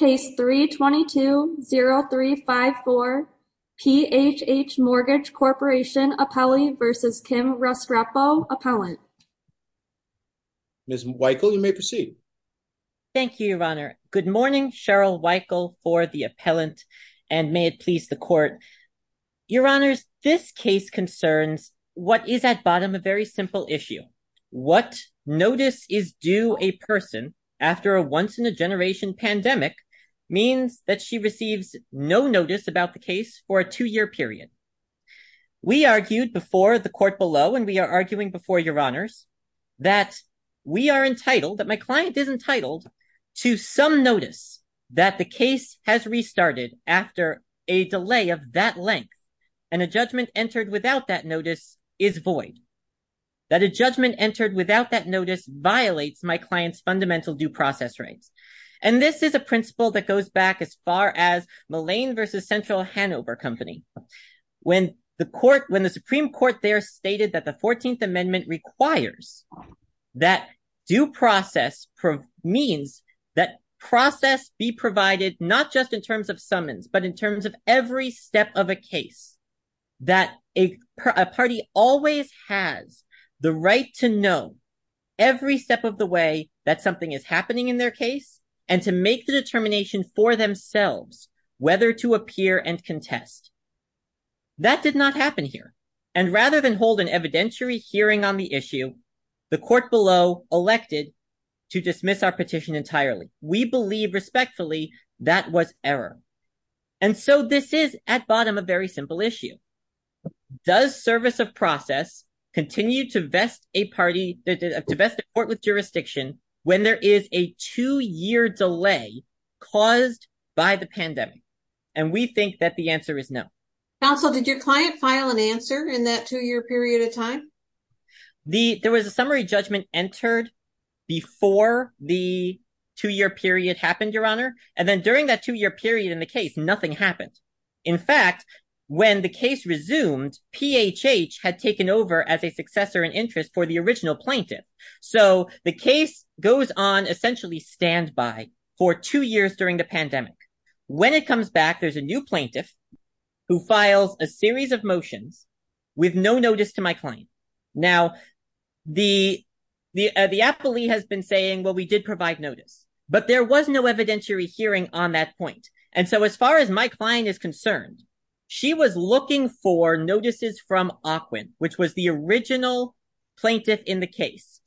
Ms. Weichel, you may proceed. Thank you, Your Honor. Good morning, Cheryl Weichel for the appellant, and may it please the Court. Your Honors, this case concerns what is at bottom a very simple issue. Namely, what notice is due a person after a once-in-a-generation pandemic means that she receives no notice about the case for a two-year period. We argued before the Court below, and we are arguing before Your Honors, that we are entitled, that my client is entitled to some notice that the case has restarted after a delay of that length, and a judgment entered without that notice is void. A judgment entered without that notice violates my client's fundamental due process rights. This is a principle that goes back as far as Mullane v. Central Hannover Company. When the Supreme Court there stated that the 14th Amendment requires that due process means that process be provided not just in terms of summons, but in terms of every step of a case, that a party always has the right to know every step of the way that something is happening in their case, and to make the determination for themselves whether to appear and contest. That did not happen here, and rather than hold an evidentiary hearing on the issue, the Court below elected to dismiss our petition entirely. We believe respectfully that was error. And so this is, at bottom, a very simple issue. Does service of process continue to vest a court with jurisdiction when there is a two-year delay caused by the pandemic? And we think that the answer is no. Counsel, did your client file an answer in that two-year period of time? The there was a summary judgment entered before the two-year period happened, Your Honor, and then during that two-year period in the case, nothing happened. In fact, when the case resumed, PHH had taken over as a successor in interest for the original plaintiff. So the case goes on essentially standby for two years during the pandemic. When it comes back, there's a new plaintiff who files a series of motions with no notice to my client. Now, the appellee has been saying, well, we did provide notice, but there was no evidentiary hearing on that point. And so as far as my client is concerned, she was looking for notices from AQUIN, which was the original plaintiff in the case.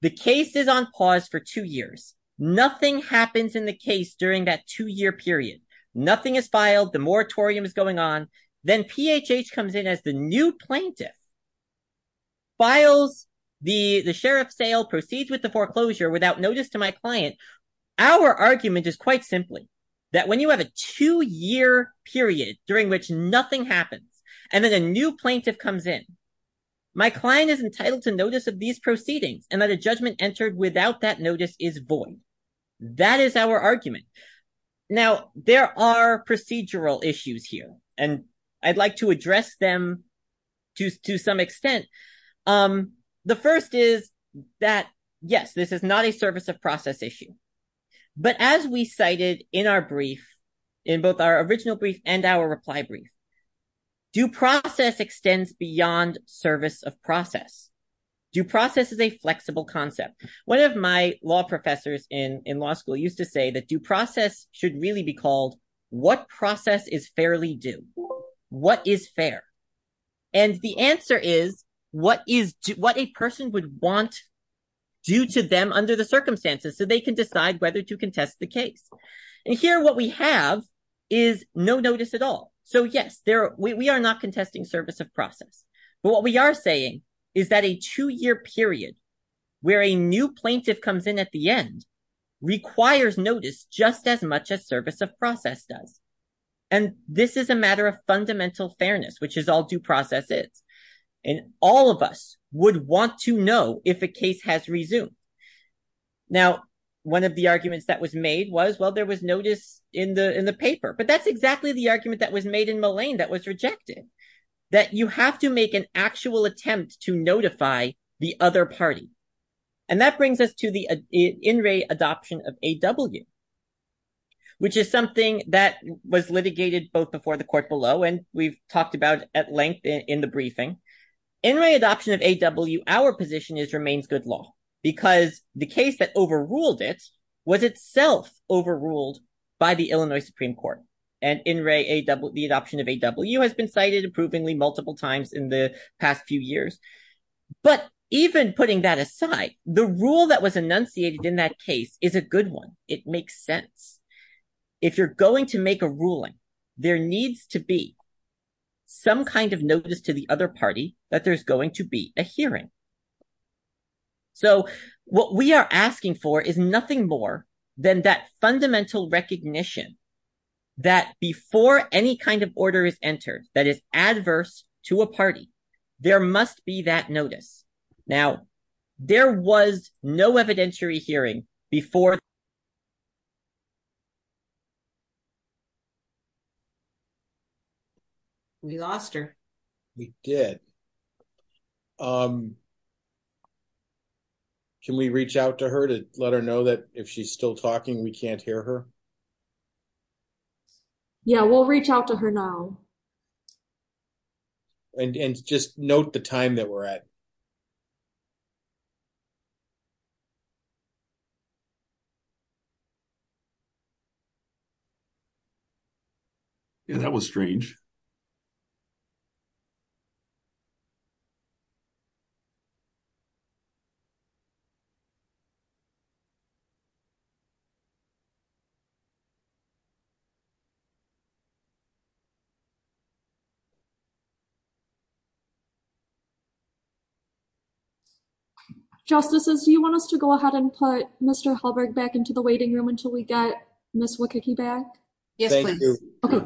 The case is on pause for two years. Nothing happens in the case during that two-year period. Nothing is filed. The moratorium is going on. Then PHH comes in as the new plaintiff. Files the sheriff's sale, proceeds with the foreclosure without notice to my client. Our argument is quite simply that when you have a two-year period during which nothing happens, and then a new plaintiff comes in, my client is entitled to notice of these proceedings, and that a judgment entered without that notice is void. That is our argument. Now, there are procedural issues here, and I'd like to address them to some extent. The first is that, yes, this is not a service of process issue. But as we cited in our brief, in both our original brief and our reply brief, due process extends beyond service of process. Due process is a flexible concept. One of my law professors in law school used to say that due process should really be called, what process is fairly due? What is fair? The answer is, what a person would want due to them under the circumstances so they can decide whether to contest the case. Here, what we have is no notice at all. Yes, we are not contesting service of process. But what we are saying is that a two-year period where a new plaintiff comes in at the end requires notice just as much as service of process does. And this is a matter of fundamental fairness, which is all due process is. And all of us would want to know if a case has resumed. Now, one of the arguments that was made was, well, there was notice in the paper. But that's to make an actual attempt to notify the other party. And that brings us to the in re adoption of A.W., which is something that was litigated both before the court below and we've talked about at length in the briefing. In re adoption of A.W., our position is remains good law, because the case that overruled it was itself overruled by the Illinois Supreme Court. And in re the adoption of A.W. has been cited approvingly multiple times in the past few years. But even putting that aside, the rule that was enunciated in that case is a good one. It makes sense. If you're going to make a ruling, there needs to be some kind of notice to the other party that there's going to be a hearing. So what we are asking for is nothing more than that fundamental recognition that before any kind of order is entered that is adverse to a party, there must be that notice. Now, there was no evidentiary hearing before. We lost her. We did. Um, can we reach out to her to let her know that if she's still talking, we can't hear her? Yeah, we'll reach out to her now. And just note the time that we're at. Yeah, that was strange. Yeah. Justices, do you want us to go ahead and put Mr. Halberg back into the waiting room until we get Ms. Wieckicki back? Yes, please. Okay.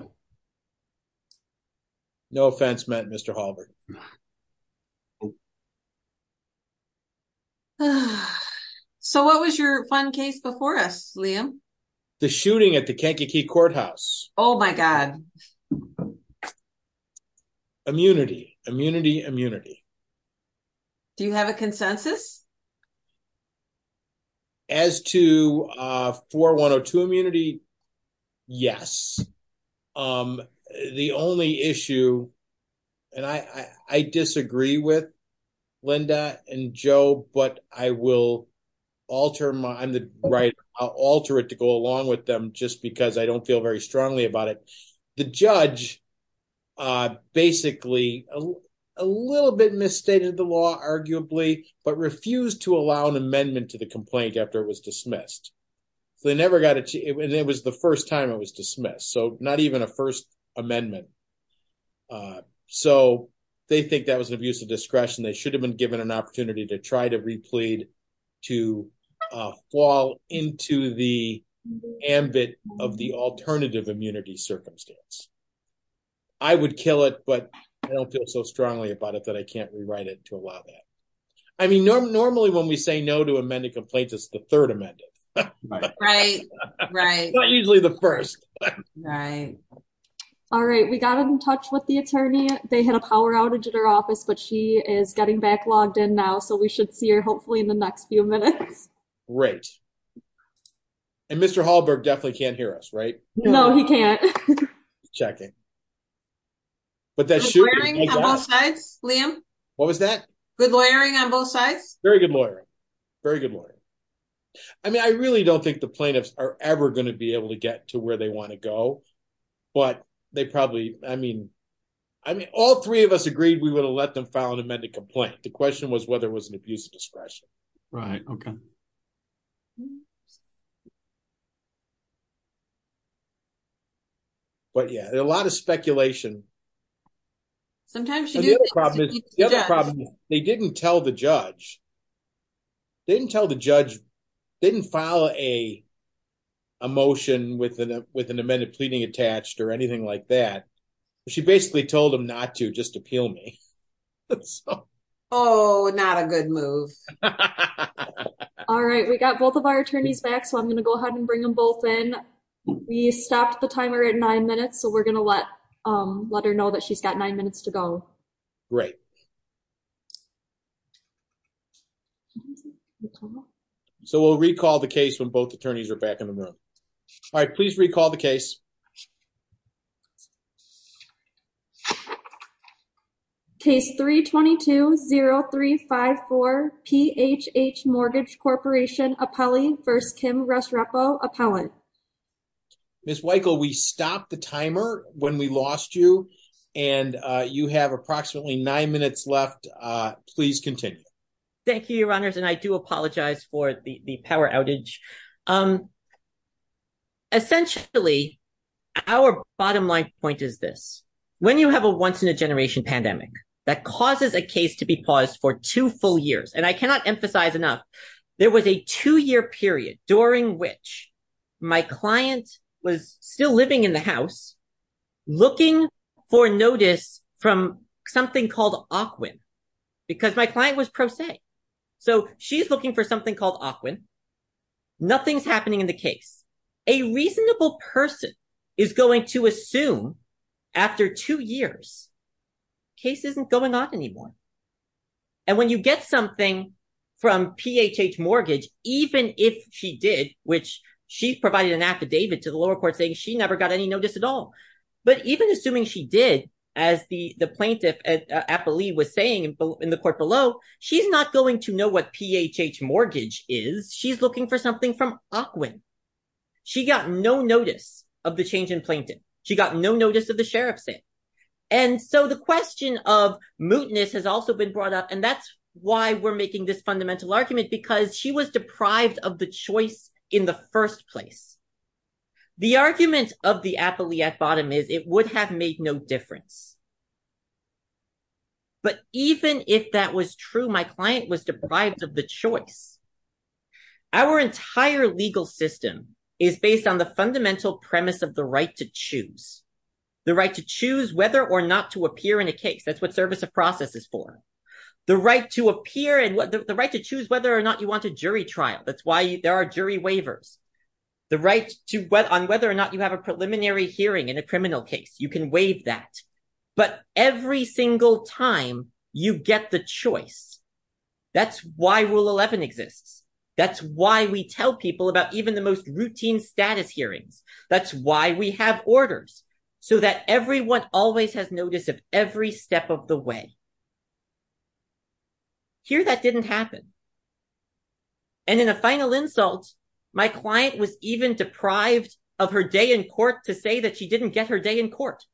No offense meant, Mr. Halberg. Okay. So what was your fun case before us, Liam? The shooting at the Kankakee Courthouse. Oh, my God. Immunity, immunity, immunity. Do you have a consensus? As to 4102 immunity, yes. The only issue, and I disagree with Linda and Joe, but I will alter my, I'm the right, I'll alter it to go along with them just because I don't feel very strongly about it. The judge basically, a little bit misstated the law, arguably, but refused to go along with it. Refused to allow an amendment to the complaint after it was dismissed. They never got it, and it was the first time it was dismissed. So not even a first amendment. So they think that was an abuse of discretion. They should have been given an opportunity to try to replead, to fall into the ambit of the alternative immunity circumstance. I would kill it, but I don't feel so strongly about it that I can't rewrite it to allow that. I mean, normally, when we say no to amended complaints, it's the third amendment. Right, right. Not usually the first. Right. All right. We got in touch with the attorney. They had a power outage at her office, but she is getting back logged in now. So we should see her hopefully in the next few minutes. Great. And Mr. Hallberg definitely can't hear us, right? No, he can't. Checking. But that should be. On both sides, Liam. What was that? Good lawyering on both sides. Very good lawyer. Very good lawyer. I mean, I really don't think the plaintiffs are ever going to be able to get to where they want to go, but they probably, I mean, I mean, all three of us agreed we would have let them file an amended complaint. The question was whether it was an abuse of discretion. Right, okay. But yeah, a lot of speculation. Sometimes you do. The other problem is they didn't tell the judge. They didn't tell the judge. They didn't file a motion with an amended pleading attached or anything like that. She basically told him not to just appeal me. Oh, not a good move. All right. We got both of our attorneys back. So I'm going to go ahead and bring them both in. We stopped the timer at nine minutes. So we're going to let her know that she's got nine minutes to go. Great. So we'll recall the case when both attorneys are back in the room. All right. Please recall the case. Case 322-0354, PHH Mortgage Corporation Appellee v. Kim Resrepo Appellant. Ms. Weichel, we stopped the timer when we lost you. And you have approximately nine minutes left. Please continue. Thank you, Your Honors. And I do apologize for the power outage. Essentially, our bottom line point is this. When you have a once-in-a-generation pandemic that causes a case to be paused for two full years, and I cannot emphasize enough, there was a two-year period during which my client was still living in the house, looking for notice from something called Ocwin, because my client was pro se. So she's looking for something called Ocwin. Nothing's happening in the case. A reasonable person is going to assume after two years, the case isn't going on anymore. And when you get something from PHH Mortgage, even if she did, which she provided an affidavit to the lower court saying she never got any notice at all. But even assuming she did, as the plaintiff, Appellee, was saying in the court below, she's not going to know what PHH Mortgage is. She's looking for something from Ocwin. She got no notice of the change in plaintiff. She got no notice of the sheriff's in. And so the question of mootness has also been brought up. And that's why we're making this fundamental argument, because she was deprived of the in the first place. The argument of the Appellee at bottom is it would have made no difference. But even if that was true, my client was deprived of the choice. Our entire legal system is based on the fundamental premise of the right to choose. The right to choose whether or not to appear in a case. That's what service of process is for. The right to appear and the right to choose whether or not you want a jury trial. That's why there are jury waivers. The right on whether or not you have a preliminary hearing in a criminal case. You can waive that. But every single time you get the choice. That's why Rule 11 exists. That's why we tell people about even the most routine status hearings. That's why we have orders. So that everyone always has notice of every step of the way. Here that didn't happen. And in a final insult, my client was even deprived of her day in court to say that she didn't get her day in court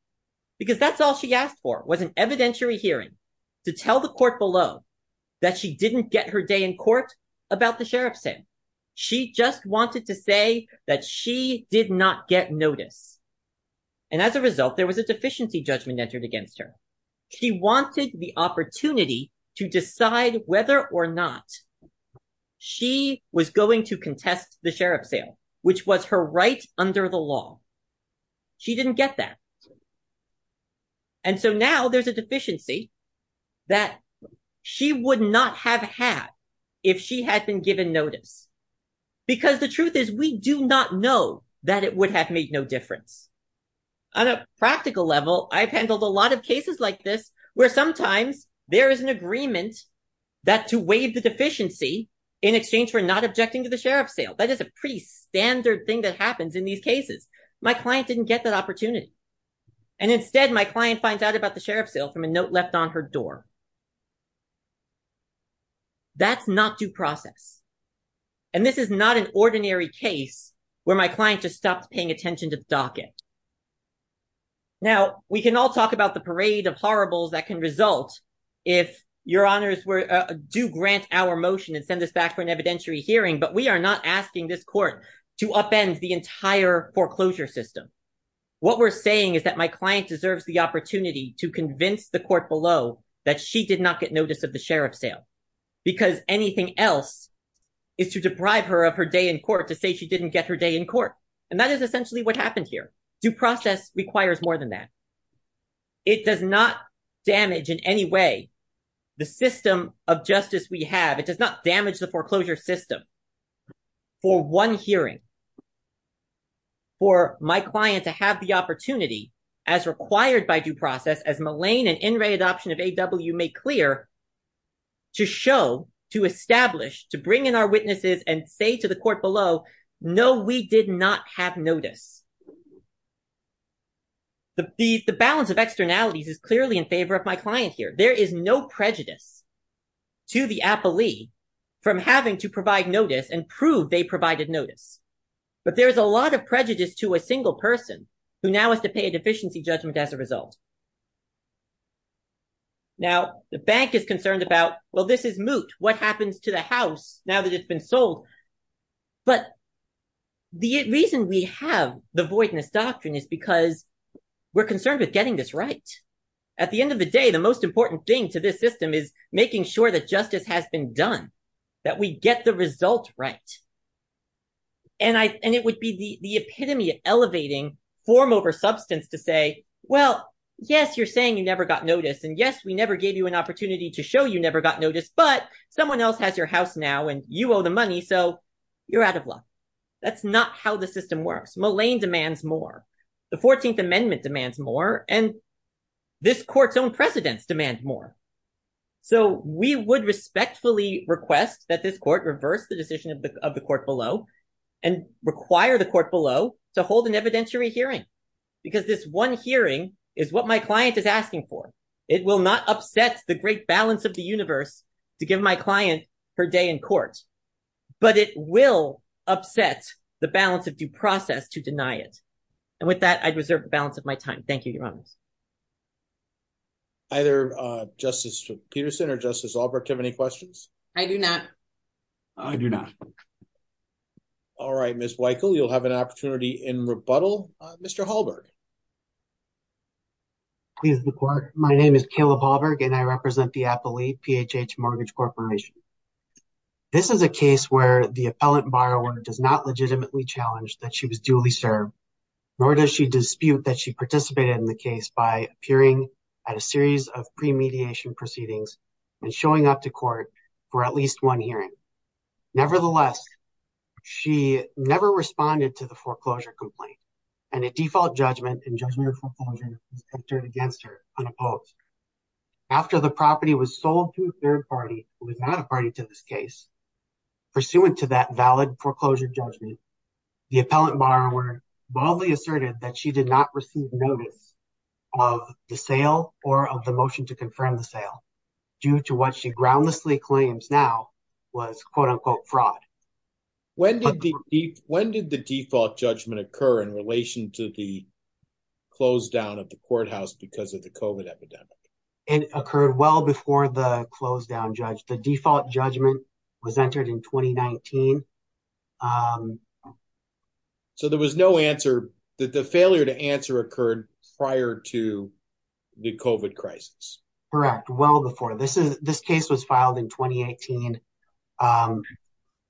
because that's all she asked for was an evidentiary hearing to tell the court below that she didn't get her day in court about the sheriff's sentence. She just wanted to say that she did not get notice. And as a result, there was a deficiency judgment entered against her. She wanted the opportunity to decide whether or not she was going to contest the sheriff's sale, which was her right under the law. She didn't get that. And so now there's a deficiency that she would not have had if she had been given notice. Because the truth is, we do not know that it would have made no difference. On a practical level, I've handled a lot of cases like this, where sometimes there is an agreement that to waive the deficiency in exchange for not objecting to the sheriff's sale. That is a pretty standard thing that happens in these cases. My client didn't get that opportunity. And instead, my client finds out about the sheriff's sale from a note left on her door. That's not due process. And this is not an ordinary case where my client just stopped paying attention to the sheriff's sale. Now, we can all talk about the parade of horribles that can result if your honors do grant our motion and send this back for an evidentiary hearing. But we are not asking this court to upend the entire foreclosure system. What we're saying is that my client deserves the opportunity to convince the court below that she did not get notice of the sheriff's sale, because anything else is to deprive her of her day in court to say she didn't get her day in court. And that is essentially what happened here. Due process requires more than that. It does not damage in any way the system of justice we have. It does not damage the foreclosure system. For one hearing, for my client to have the opportunity, as required by due process, as Mullane and In Re Adoption of A.W. made clear, to show, to establish, to bring in our witnesses and say to the court below, no, we did not have notice. The balance of externalities is clearly in favor of my client here. There is no prejudice to the appellee from having to provide notice and prove they provided notice. But there is a lot of prejudice to a single person who now has to pay a deficiency judgment as a result. Now, the bank is concerned about, well, this is moot. What happens to the house now that it's been sold? But the reason we have the voidness doctrine is because we're concerned with getting this right. At the end of the day, the most important thing to this system is making sure that justice has been done, that we get the result right. And it would be the epitome of elevating form over substance to say, well, yes, you're saying you never got notice. And yes, we never gave you an opportunity to show you never got notice. But someone else has your house now and you owe the money. So you're out of luck. That's not how the system works. Mullane demands more. The 14th Amendment demands more. And this court's own precedents demand more. So we would respectfully request that this court reverse the decision of the court below and require the court below to hold an evidentiary hearing, because this one hearing is what my client is asking for. It will not upset the great balance of the universe to give my client her day in court, but it will upset the balance of due process to deny it. And with that, I'd reserve the balance of my time. Thank you, Your Honor. Either Justice Peterson or Justice Albrecht have any questions? I do not. I do not. All right, Ms. Weichel, you'll have an opportunity in rebuttal. Mr. Hallberg. Please, the court. My name is Caleb Hallberg, and I represent the appellee, PHH Mortgage Corporation. This is a case where the appellant borrower does not legitimately challenge that she was duly served, nor does she dispute that she participated in the case by appearing at a series of premediation proceedings and showing up to court for at least one hearing. Nevertheless, she never responded to the foreclosure complaint, and a default judgment and judgment of foreclosure was entered against her, unopposed. After the property was sold to a third party, who was not a party to this case, pursuant to that valid foreclosure judgment, the appellant borrower boldly asserted that she did not receive notice of the sale or of the motion to confirm the sale, due to what she groundlessly claims now was, quote, unquote, fraud. When did the default judgment occur in relation to the close-down of the courthouse because of the COVID epidemic? It occurred well before the close-down judge. The default judgment was entered in 2019. So there was no answer, the failure to answer occurred prior to the COVID crisis? Correct, well before. This case was filed in 2018.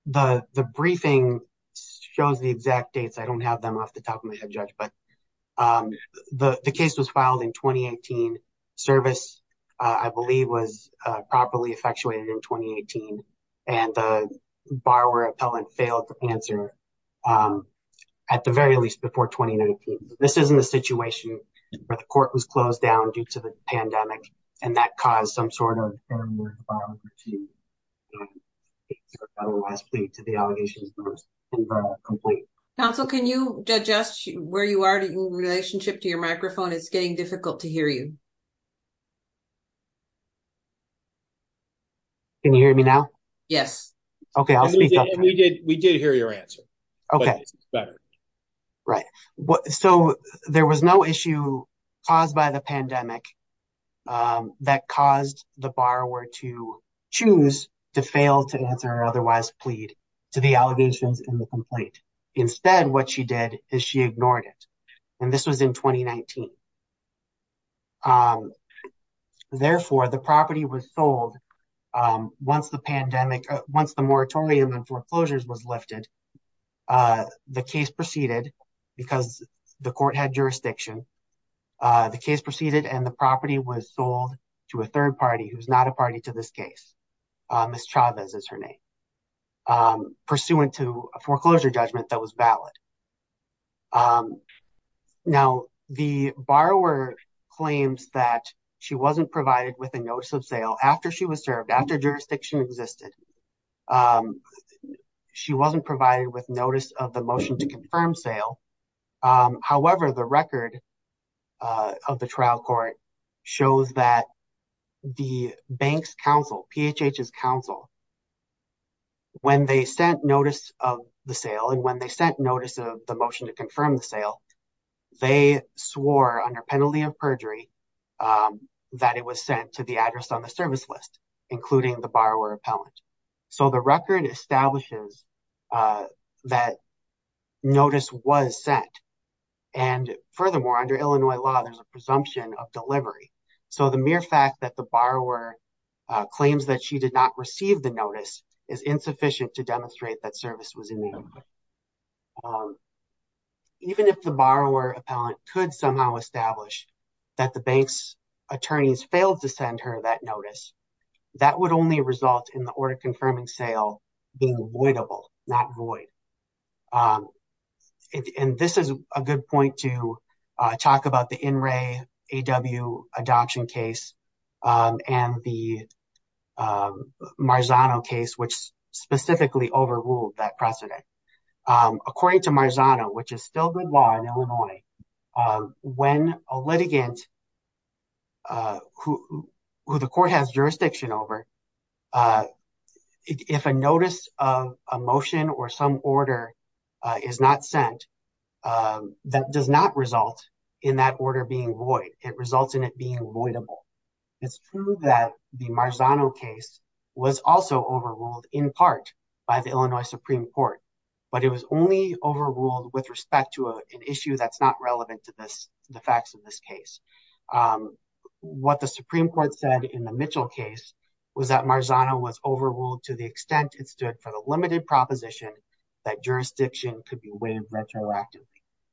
The briefing shows the exact dates. I don't have them off the top of my head, Judge, but the case was filed in 2018. Service, I believe, was properly effectuated in 2018, and the borrower appellant failed to answer at the very least before 2019. This isn't a situation where the court was closed down due to the pandemic, and that caused some sort of failure to file the case or otherwise plead to the allegations. Counsel, can you adjust where you are in relationship to your microphone? It's getting difficult to hear you. Can you hear me now? Yes. We did hear your answer, but it's better. Right, so there was no issue caused by the pandemic that caused the borrower to choose to fail to answer or otherwise plead to the allegations in the complaint. Instead, what she did is she ignored it, and this was in 2019. Therefore, the property was sold once the pandemic, once the moratorium on foreclosures was lifted. The case proceeded because the court had jurisdiction. The case proceeded, and the property was sold to a third party who's not a party to this case. Ms. Chavez is her name, pursuant to a foreclosure judgment that was valid. Now, the borrower claims that she wasn't provided with a notice of sale after she was served, after jurisdiction existed. She wasn't provided with notice of the motion to confirm sale. However, the record of the trial court shows that the bank's counsel, PHH's counsel, when they sent notice of the sale and when they sent notice of the motion to confirm the sale, they swore under penalty of perjury that it was sent to the address on the service list, including the borrower appellant. The record establishes that notice was sent. Furthermore, under Illinois law, there's a presumption of delivery. The mere fact that the borrower claims that she did not receive the notice is insufficient to demonstrate that service was in the order. Even if the borrower appellant could somehow establish that the bank's attorneys failed to send her that notice, that would only result in the order confirming sale being voidable, not void. And this is a good point to talk about the NRAAW adoption case and the Marzano case, which specifically overruled that precedent. According to Marzano, which is still good law in Illinois, when a litigant who the court has jurisdiction over, if a notice of a motion or some order is not sent, that does not result in that order being void. It results in it being voidable. It's true that the Marzano case was also overruled in part by the Illinois Supreme Court, but it was only overruled with respect to an issue that's not relevant to the facts of this case. What the Supreme Court said in the Mitchell case was that Marzano was overruled to the extent it stood for the limited proposition that jurisdiction could be waived retroactively.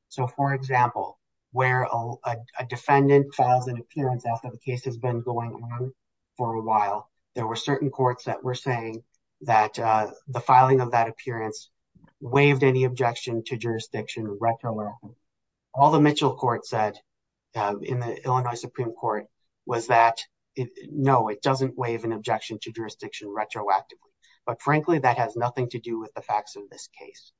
So, for example, where a defendant files an appearance after the case has been going on for a while, there were certain courts that were saying that the filing of that appearance waived any objection to jurisdiction retroactively. All the Mitchell court said in the Illinois Supreme Court was that, no, it doesn't waive an objection to jurisdiction retroactively. But frankly, that has nothing to do with the facts of this case.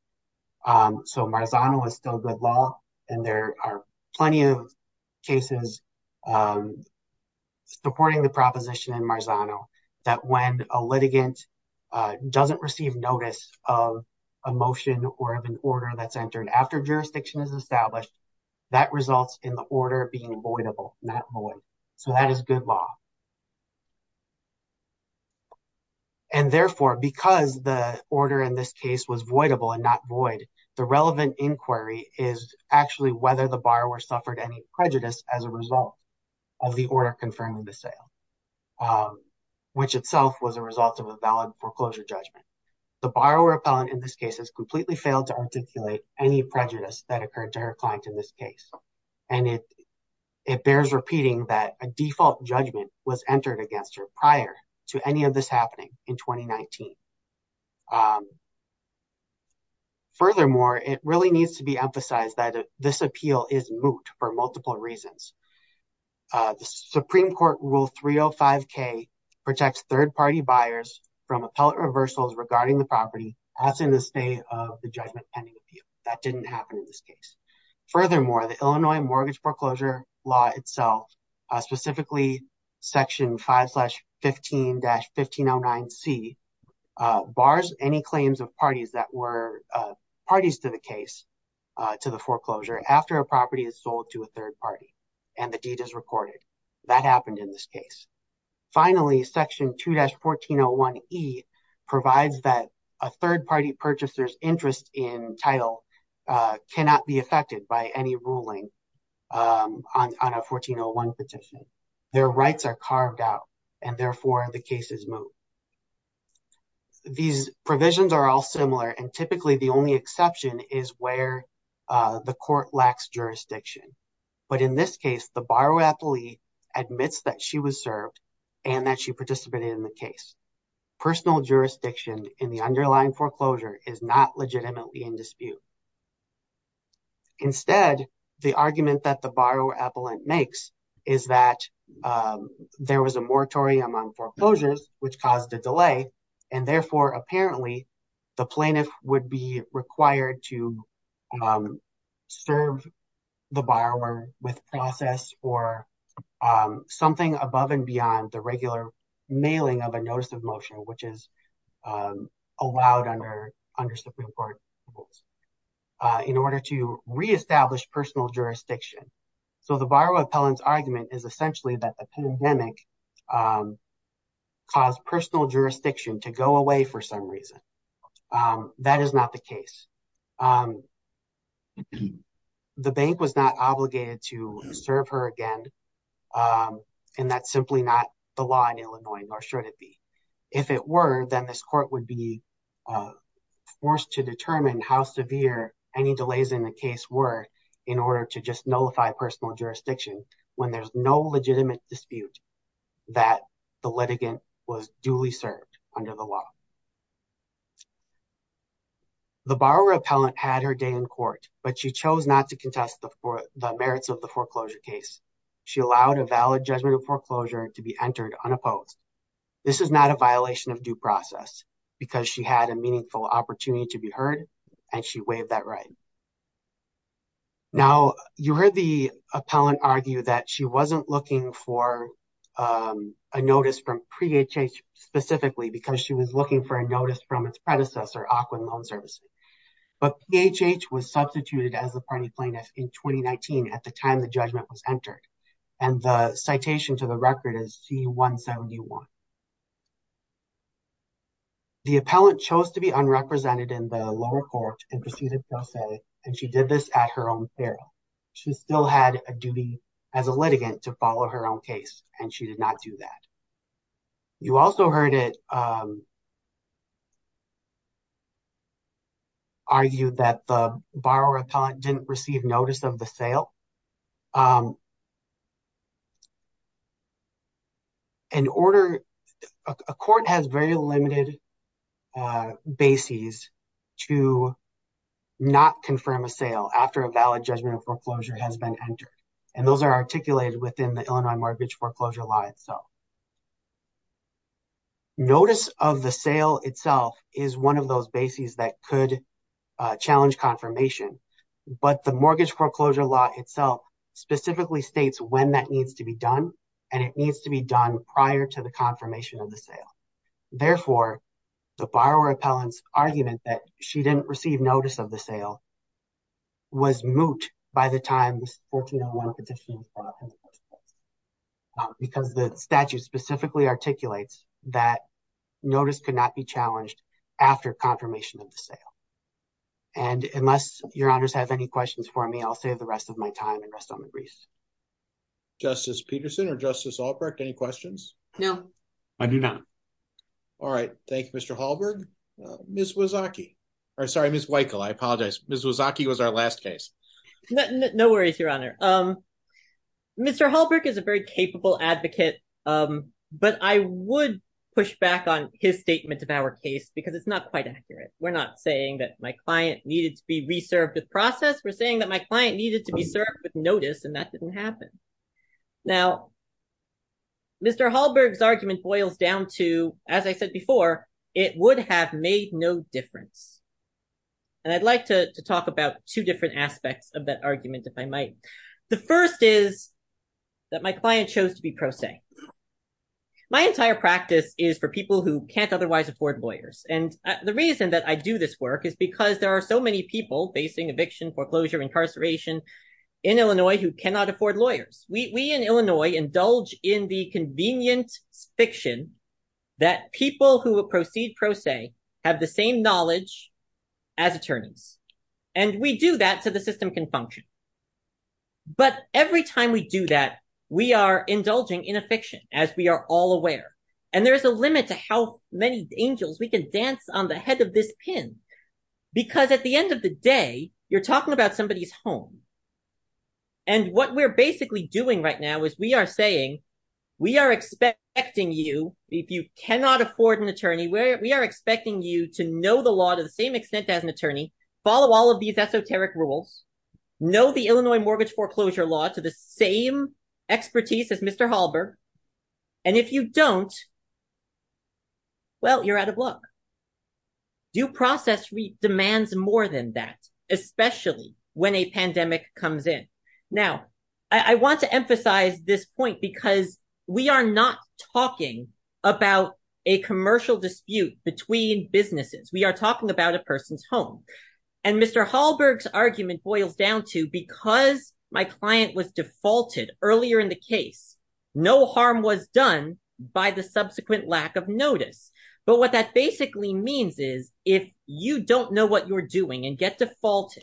So, Marzano is still good law and there are plenty of cases supporting the proposition in Marzano that when a litigant doesn't receive notice of a motion or of an order that's entered after jurisdiction is established, that results in the order being voidable, not void. So that is good law. And therefore, because the order in this case was voidable and not void, the relevant inquiry is actually whether the borrower suffered any prejudice as a result of the order confirming the sale, which itself was a result of a valid foreclosure judgment. The borrower appellant in this case has completely failed to articulate any prejudice that occurred to her client in this case. And it bears repeating that a default judgment was entered against her prior to any of this happening in 2019. Furthermore, it really needs to be emphasized that this appeal is moot for multiple reasons. The Supreme Court Rule 305K protects third-party buyers from appellate reversals regarding the property as in the state of the judgment pending appeal. That didn't happen in this case. Furthermore, the Illinois Mortgage Foreclosure Law itself, specifically Section 5-15-1509C, bars any claims of parties that were parties to the case to the foreclosure after a property is sold to a third party and the deed is recorded. That happened in this case. Finally, Section 2-1401E provides that a third-party purchaser's interest in title cannot be affected by any ruling on a 1401 petition. These provisions are all similar and typically the only exception is where the court lacks jurisdiction. But in this case, the borrower appellee admits that she was served and that she participated in the case. Personal jurisdiction in the underlying foreclosure is not legitimately in dispute. Instead, the argument that the borrower appellant makes is that there was a moratorium on foreclosures which caused a delay and therefore, apparently, the plaintiff would be required to serve the borrower with process or something above and beyond the regular mailing of a notice of motion, which is allowed under Supreme Court rules, in order to reestablish personal jurisdiction. So the borrower appellant's argument is essentially that the pandemic caused personal jurisdiction to go away for some reason. That is not the case. The bank was not obligated to serve her again and that's simply not the law in Illinois, nor should it be. If it were, then this court would be forced to determine how severe any delays in the personal jurisdiction when there's no legitimate dispute that the litigant was duly served under the law. The borrower appellant had her day in court, but she chose not to contest the merits of the foreclosure case. She allowed a valid judgment of foreclosure to be entered unopposed. This is not a violation of due process because she had a meaningful opportunity to be heard and she waived that right. Now, you heard the appellant argue that she wasn't looking for a notice from PHH specifically because she was looking for a notice from its predecessor, Auckland Loan Services. But PHH was substituted as the party plaintiff in 2019 at the time the judgment was entered and the citation to the record is C-171. The appellant chose to be unrepresented in the lower court in pursuit of due process and she did this at her own peril. She still had a duty as a litigant to follow her own case and she did not do that. You also heard it argued that the borrower appellant didn't receive notice of the sale. A court has very limited bases to not confirm a sale after a valid judgment of foreclosure has been entered and those are articulated within the Illinois Mortgage Foreclosure Law itself. Notice of the sale itself is one of those bases that could challenge confirmation, but the Mortgage Foreclosure Law itself specifically states when that needs to be done and it needs to be done prior to the confirmation of the sale. Therefore, the borrower appellant's argument that she didn't receive notice of the sale was moot by the time this 1401 petition was brought up in the first place because the statute specifically articulates that notice could not be challenged after confirmation of the sale. Unless your honors have any questions for me, I'll save the rest of my time and rest on the grease. Justice Peterson or Justice Albrecht, any questions? No. I do not. All right. Thank you, Mr. Hallberg. Ms. Wyckle, I apologize. Ms. Wyckle was our last case. No worries, your honor. Mr. Hallberg is a very capable advocate, but I would push back on his statement of our case because it's not quite accurate. We're not saying that my client needed to be reserved with process. We're saying that my client needed to be served with notice and that didn't happen. Now, Mr. Hallberg's argument boils down to, as I said before, it would have made no difference. And I'd like to talk about two different aspects of that argument if I might. The first is that my client chose to be pro se. My entire practice is for people who can't otherwise afford lawyers. The reason that I do this work is because there are so many people facing eviction, foreclosure, incarceration in Illinois who cannot afford lawyers. We in Illinois indulge in the convenient fiction that people who proceed pro se have the same knowledge as attorneys. And we do that so the system can function. But every time we do that, we are indulging in a fiction, as we are all aware. And there is a limit to how many angels we can dance on the head of this pin. Because at the end of the day, you're talking about somebody's home. And what we're basically doing right now is we are saying, we are expecting you, if you cannot afford an attorney, we are expecting you to know the law to the same extent as an attorney, follow all of these esoteric rules, know the Illinois mortgage foreclosure law to the same expertise as Mr. Hallberg. And if you don't, well, you're out of luck. Due process demands more than that, especially when a pandemic comes in. Now, I want to emphasize this point, because we are not talking about a commercial dispute between businesses. We are talking about a person's home. And Mr. Hallberg's argument boils down to, because my client was defaulted earlier in the case, no harm was done by the subsequent lack of notice. But what that basically means is, if you don't know what you're doing and get defaulted,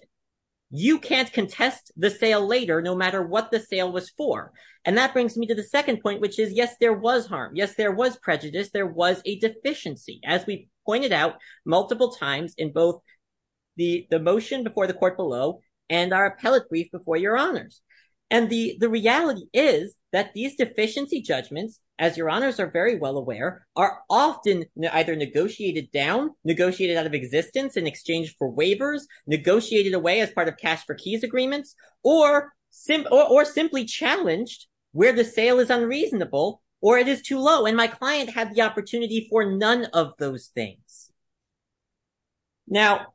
you can't contest the sale later, no matter what the sale was for. And that brings me to the second point, which is, yes, there was harm. Yes, there was prejudice. There was a deficiency, as we pointed out multiple times in both the motion before the court below and our appellate brief before your honors. And the reality is that these deficiency judgments, as your honors are very well aware, are often either negotiated down, negotiated out of existence in exchange for waivers, negotiated away as part of cash for keys agreements, or simply challenged where the sale is unreasonable or it is too low. And my client had the opportunity for none of those things. Now,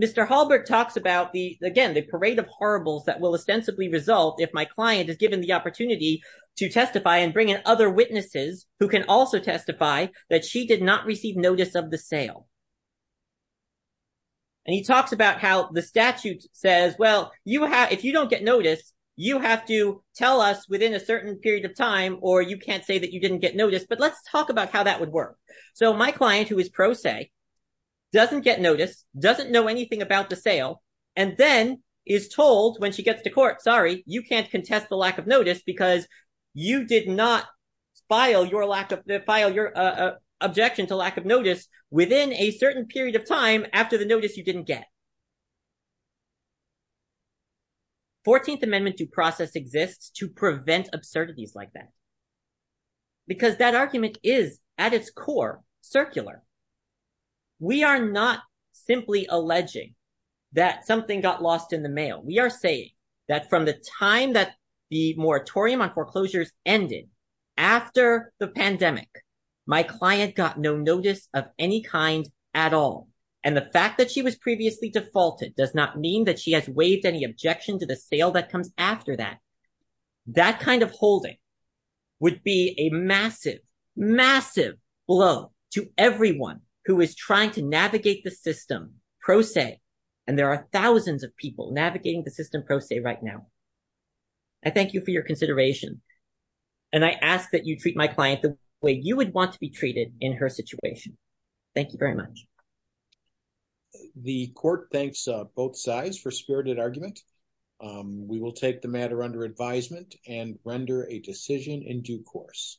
Mr. Hallberg talks about, again, the parade of horribles that will ostensibly result if my client is given the opportunity to testify and bring in other witnesses who can also testify that she did not receive notice of the sale. And he talks about how the statute says, well, if you don't get notice, you have to tell us within a certain period of time, or you can't say that you didn't get notice. But let's talk about how that would work. So my client, who is pro se, doesn't get notice, doesn't know anything about the sale. And then is told when she gets to court, sorry, you can't contest the lack of notice because you did not file your objection to lack of notice within a certain period of time after the notice you didn't get. 14th Amendment due process exists to prevent absurdities like that. Because that argument is, at its core, circular. We are not simply alleging that something got lost in the mail. We are saying that from the time that the moratorium on foreclosures ended, after the pandemic, my client got no notice of any kind at all. And the fact that she was previously defaulted does not mean that she has waived any objection to the sale that comes after that. That kind of holding would be a massive, massive blow to everyone who is trying to navigate the system pro se. And there are thousands of people navigating the system pro se right now. I thank you for your consideration. And I ask that you treat my client the way you would want to be treated in her situation. Thank you very much. The court thanks both sides for spirited argument. We will take the matter under advisement and render a decision in due course.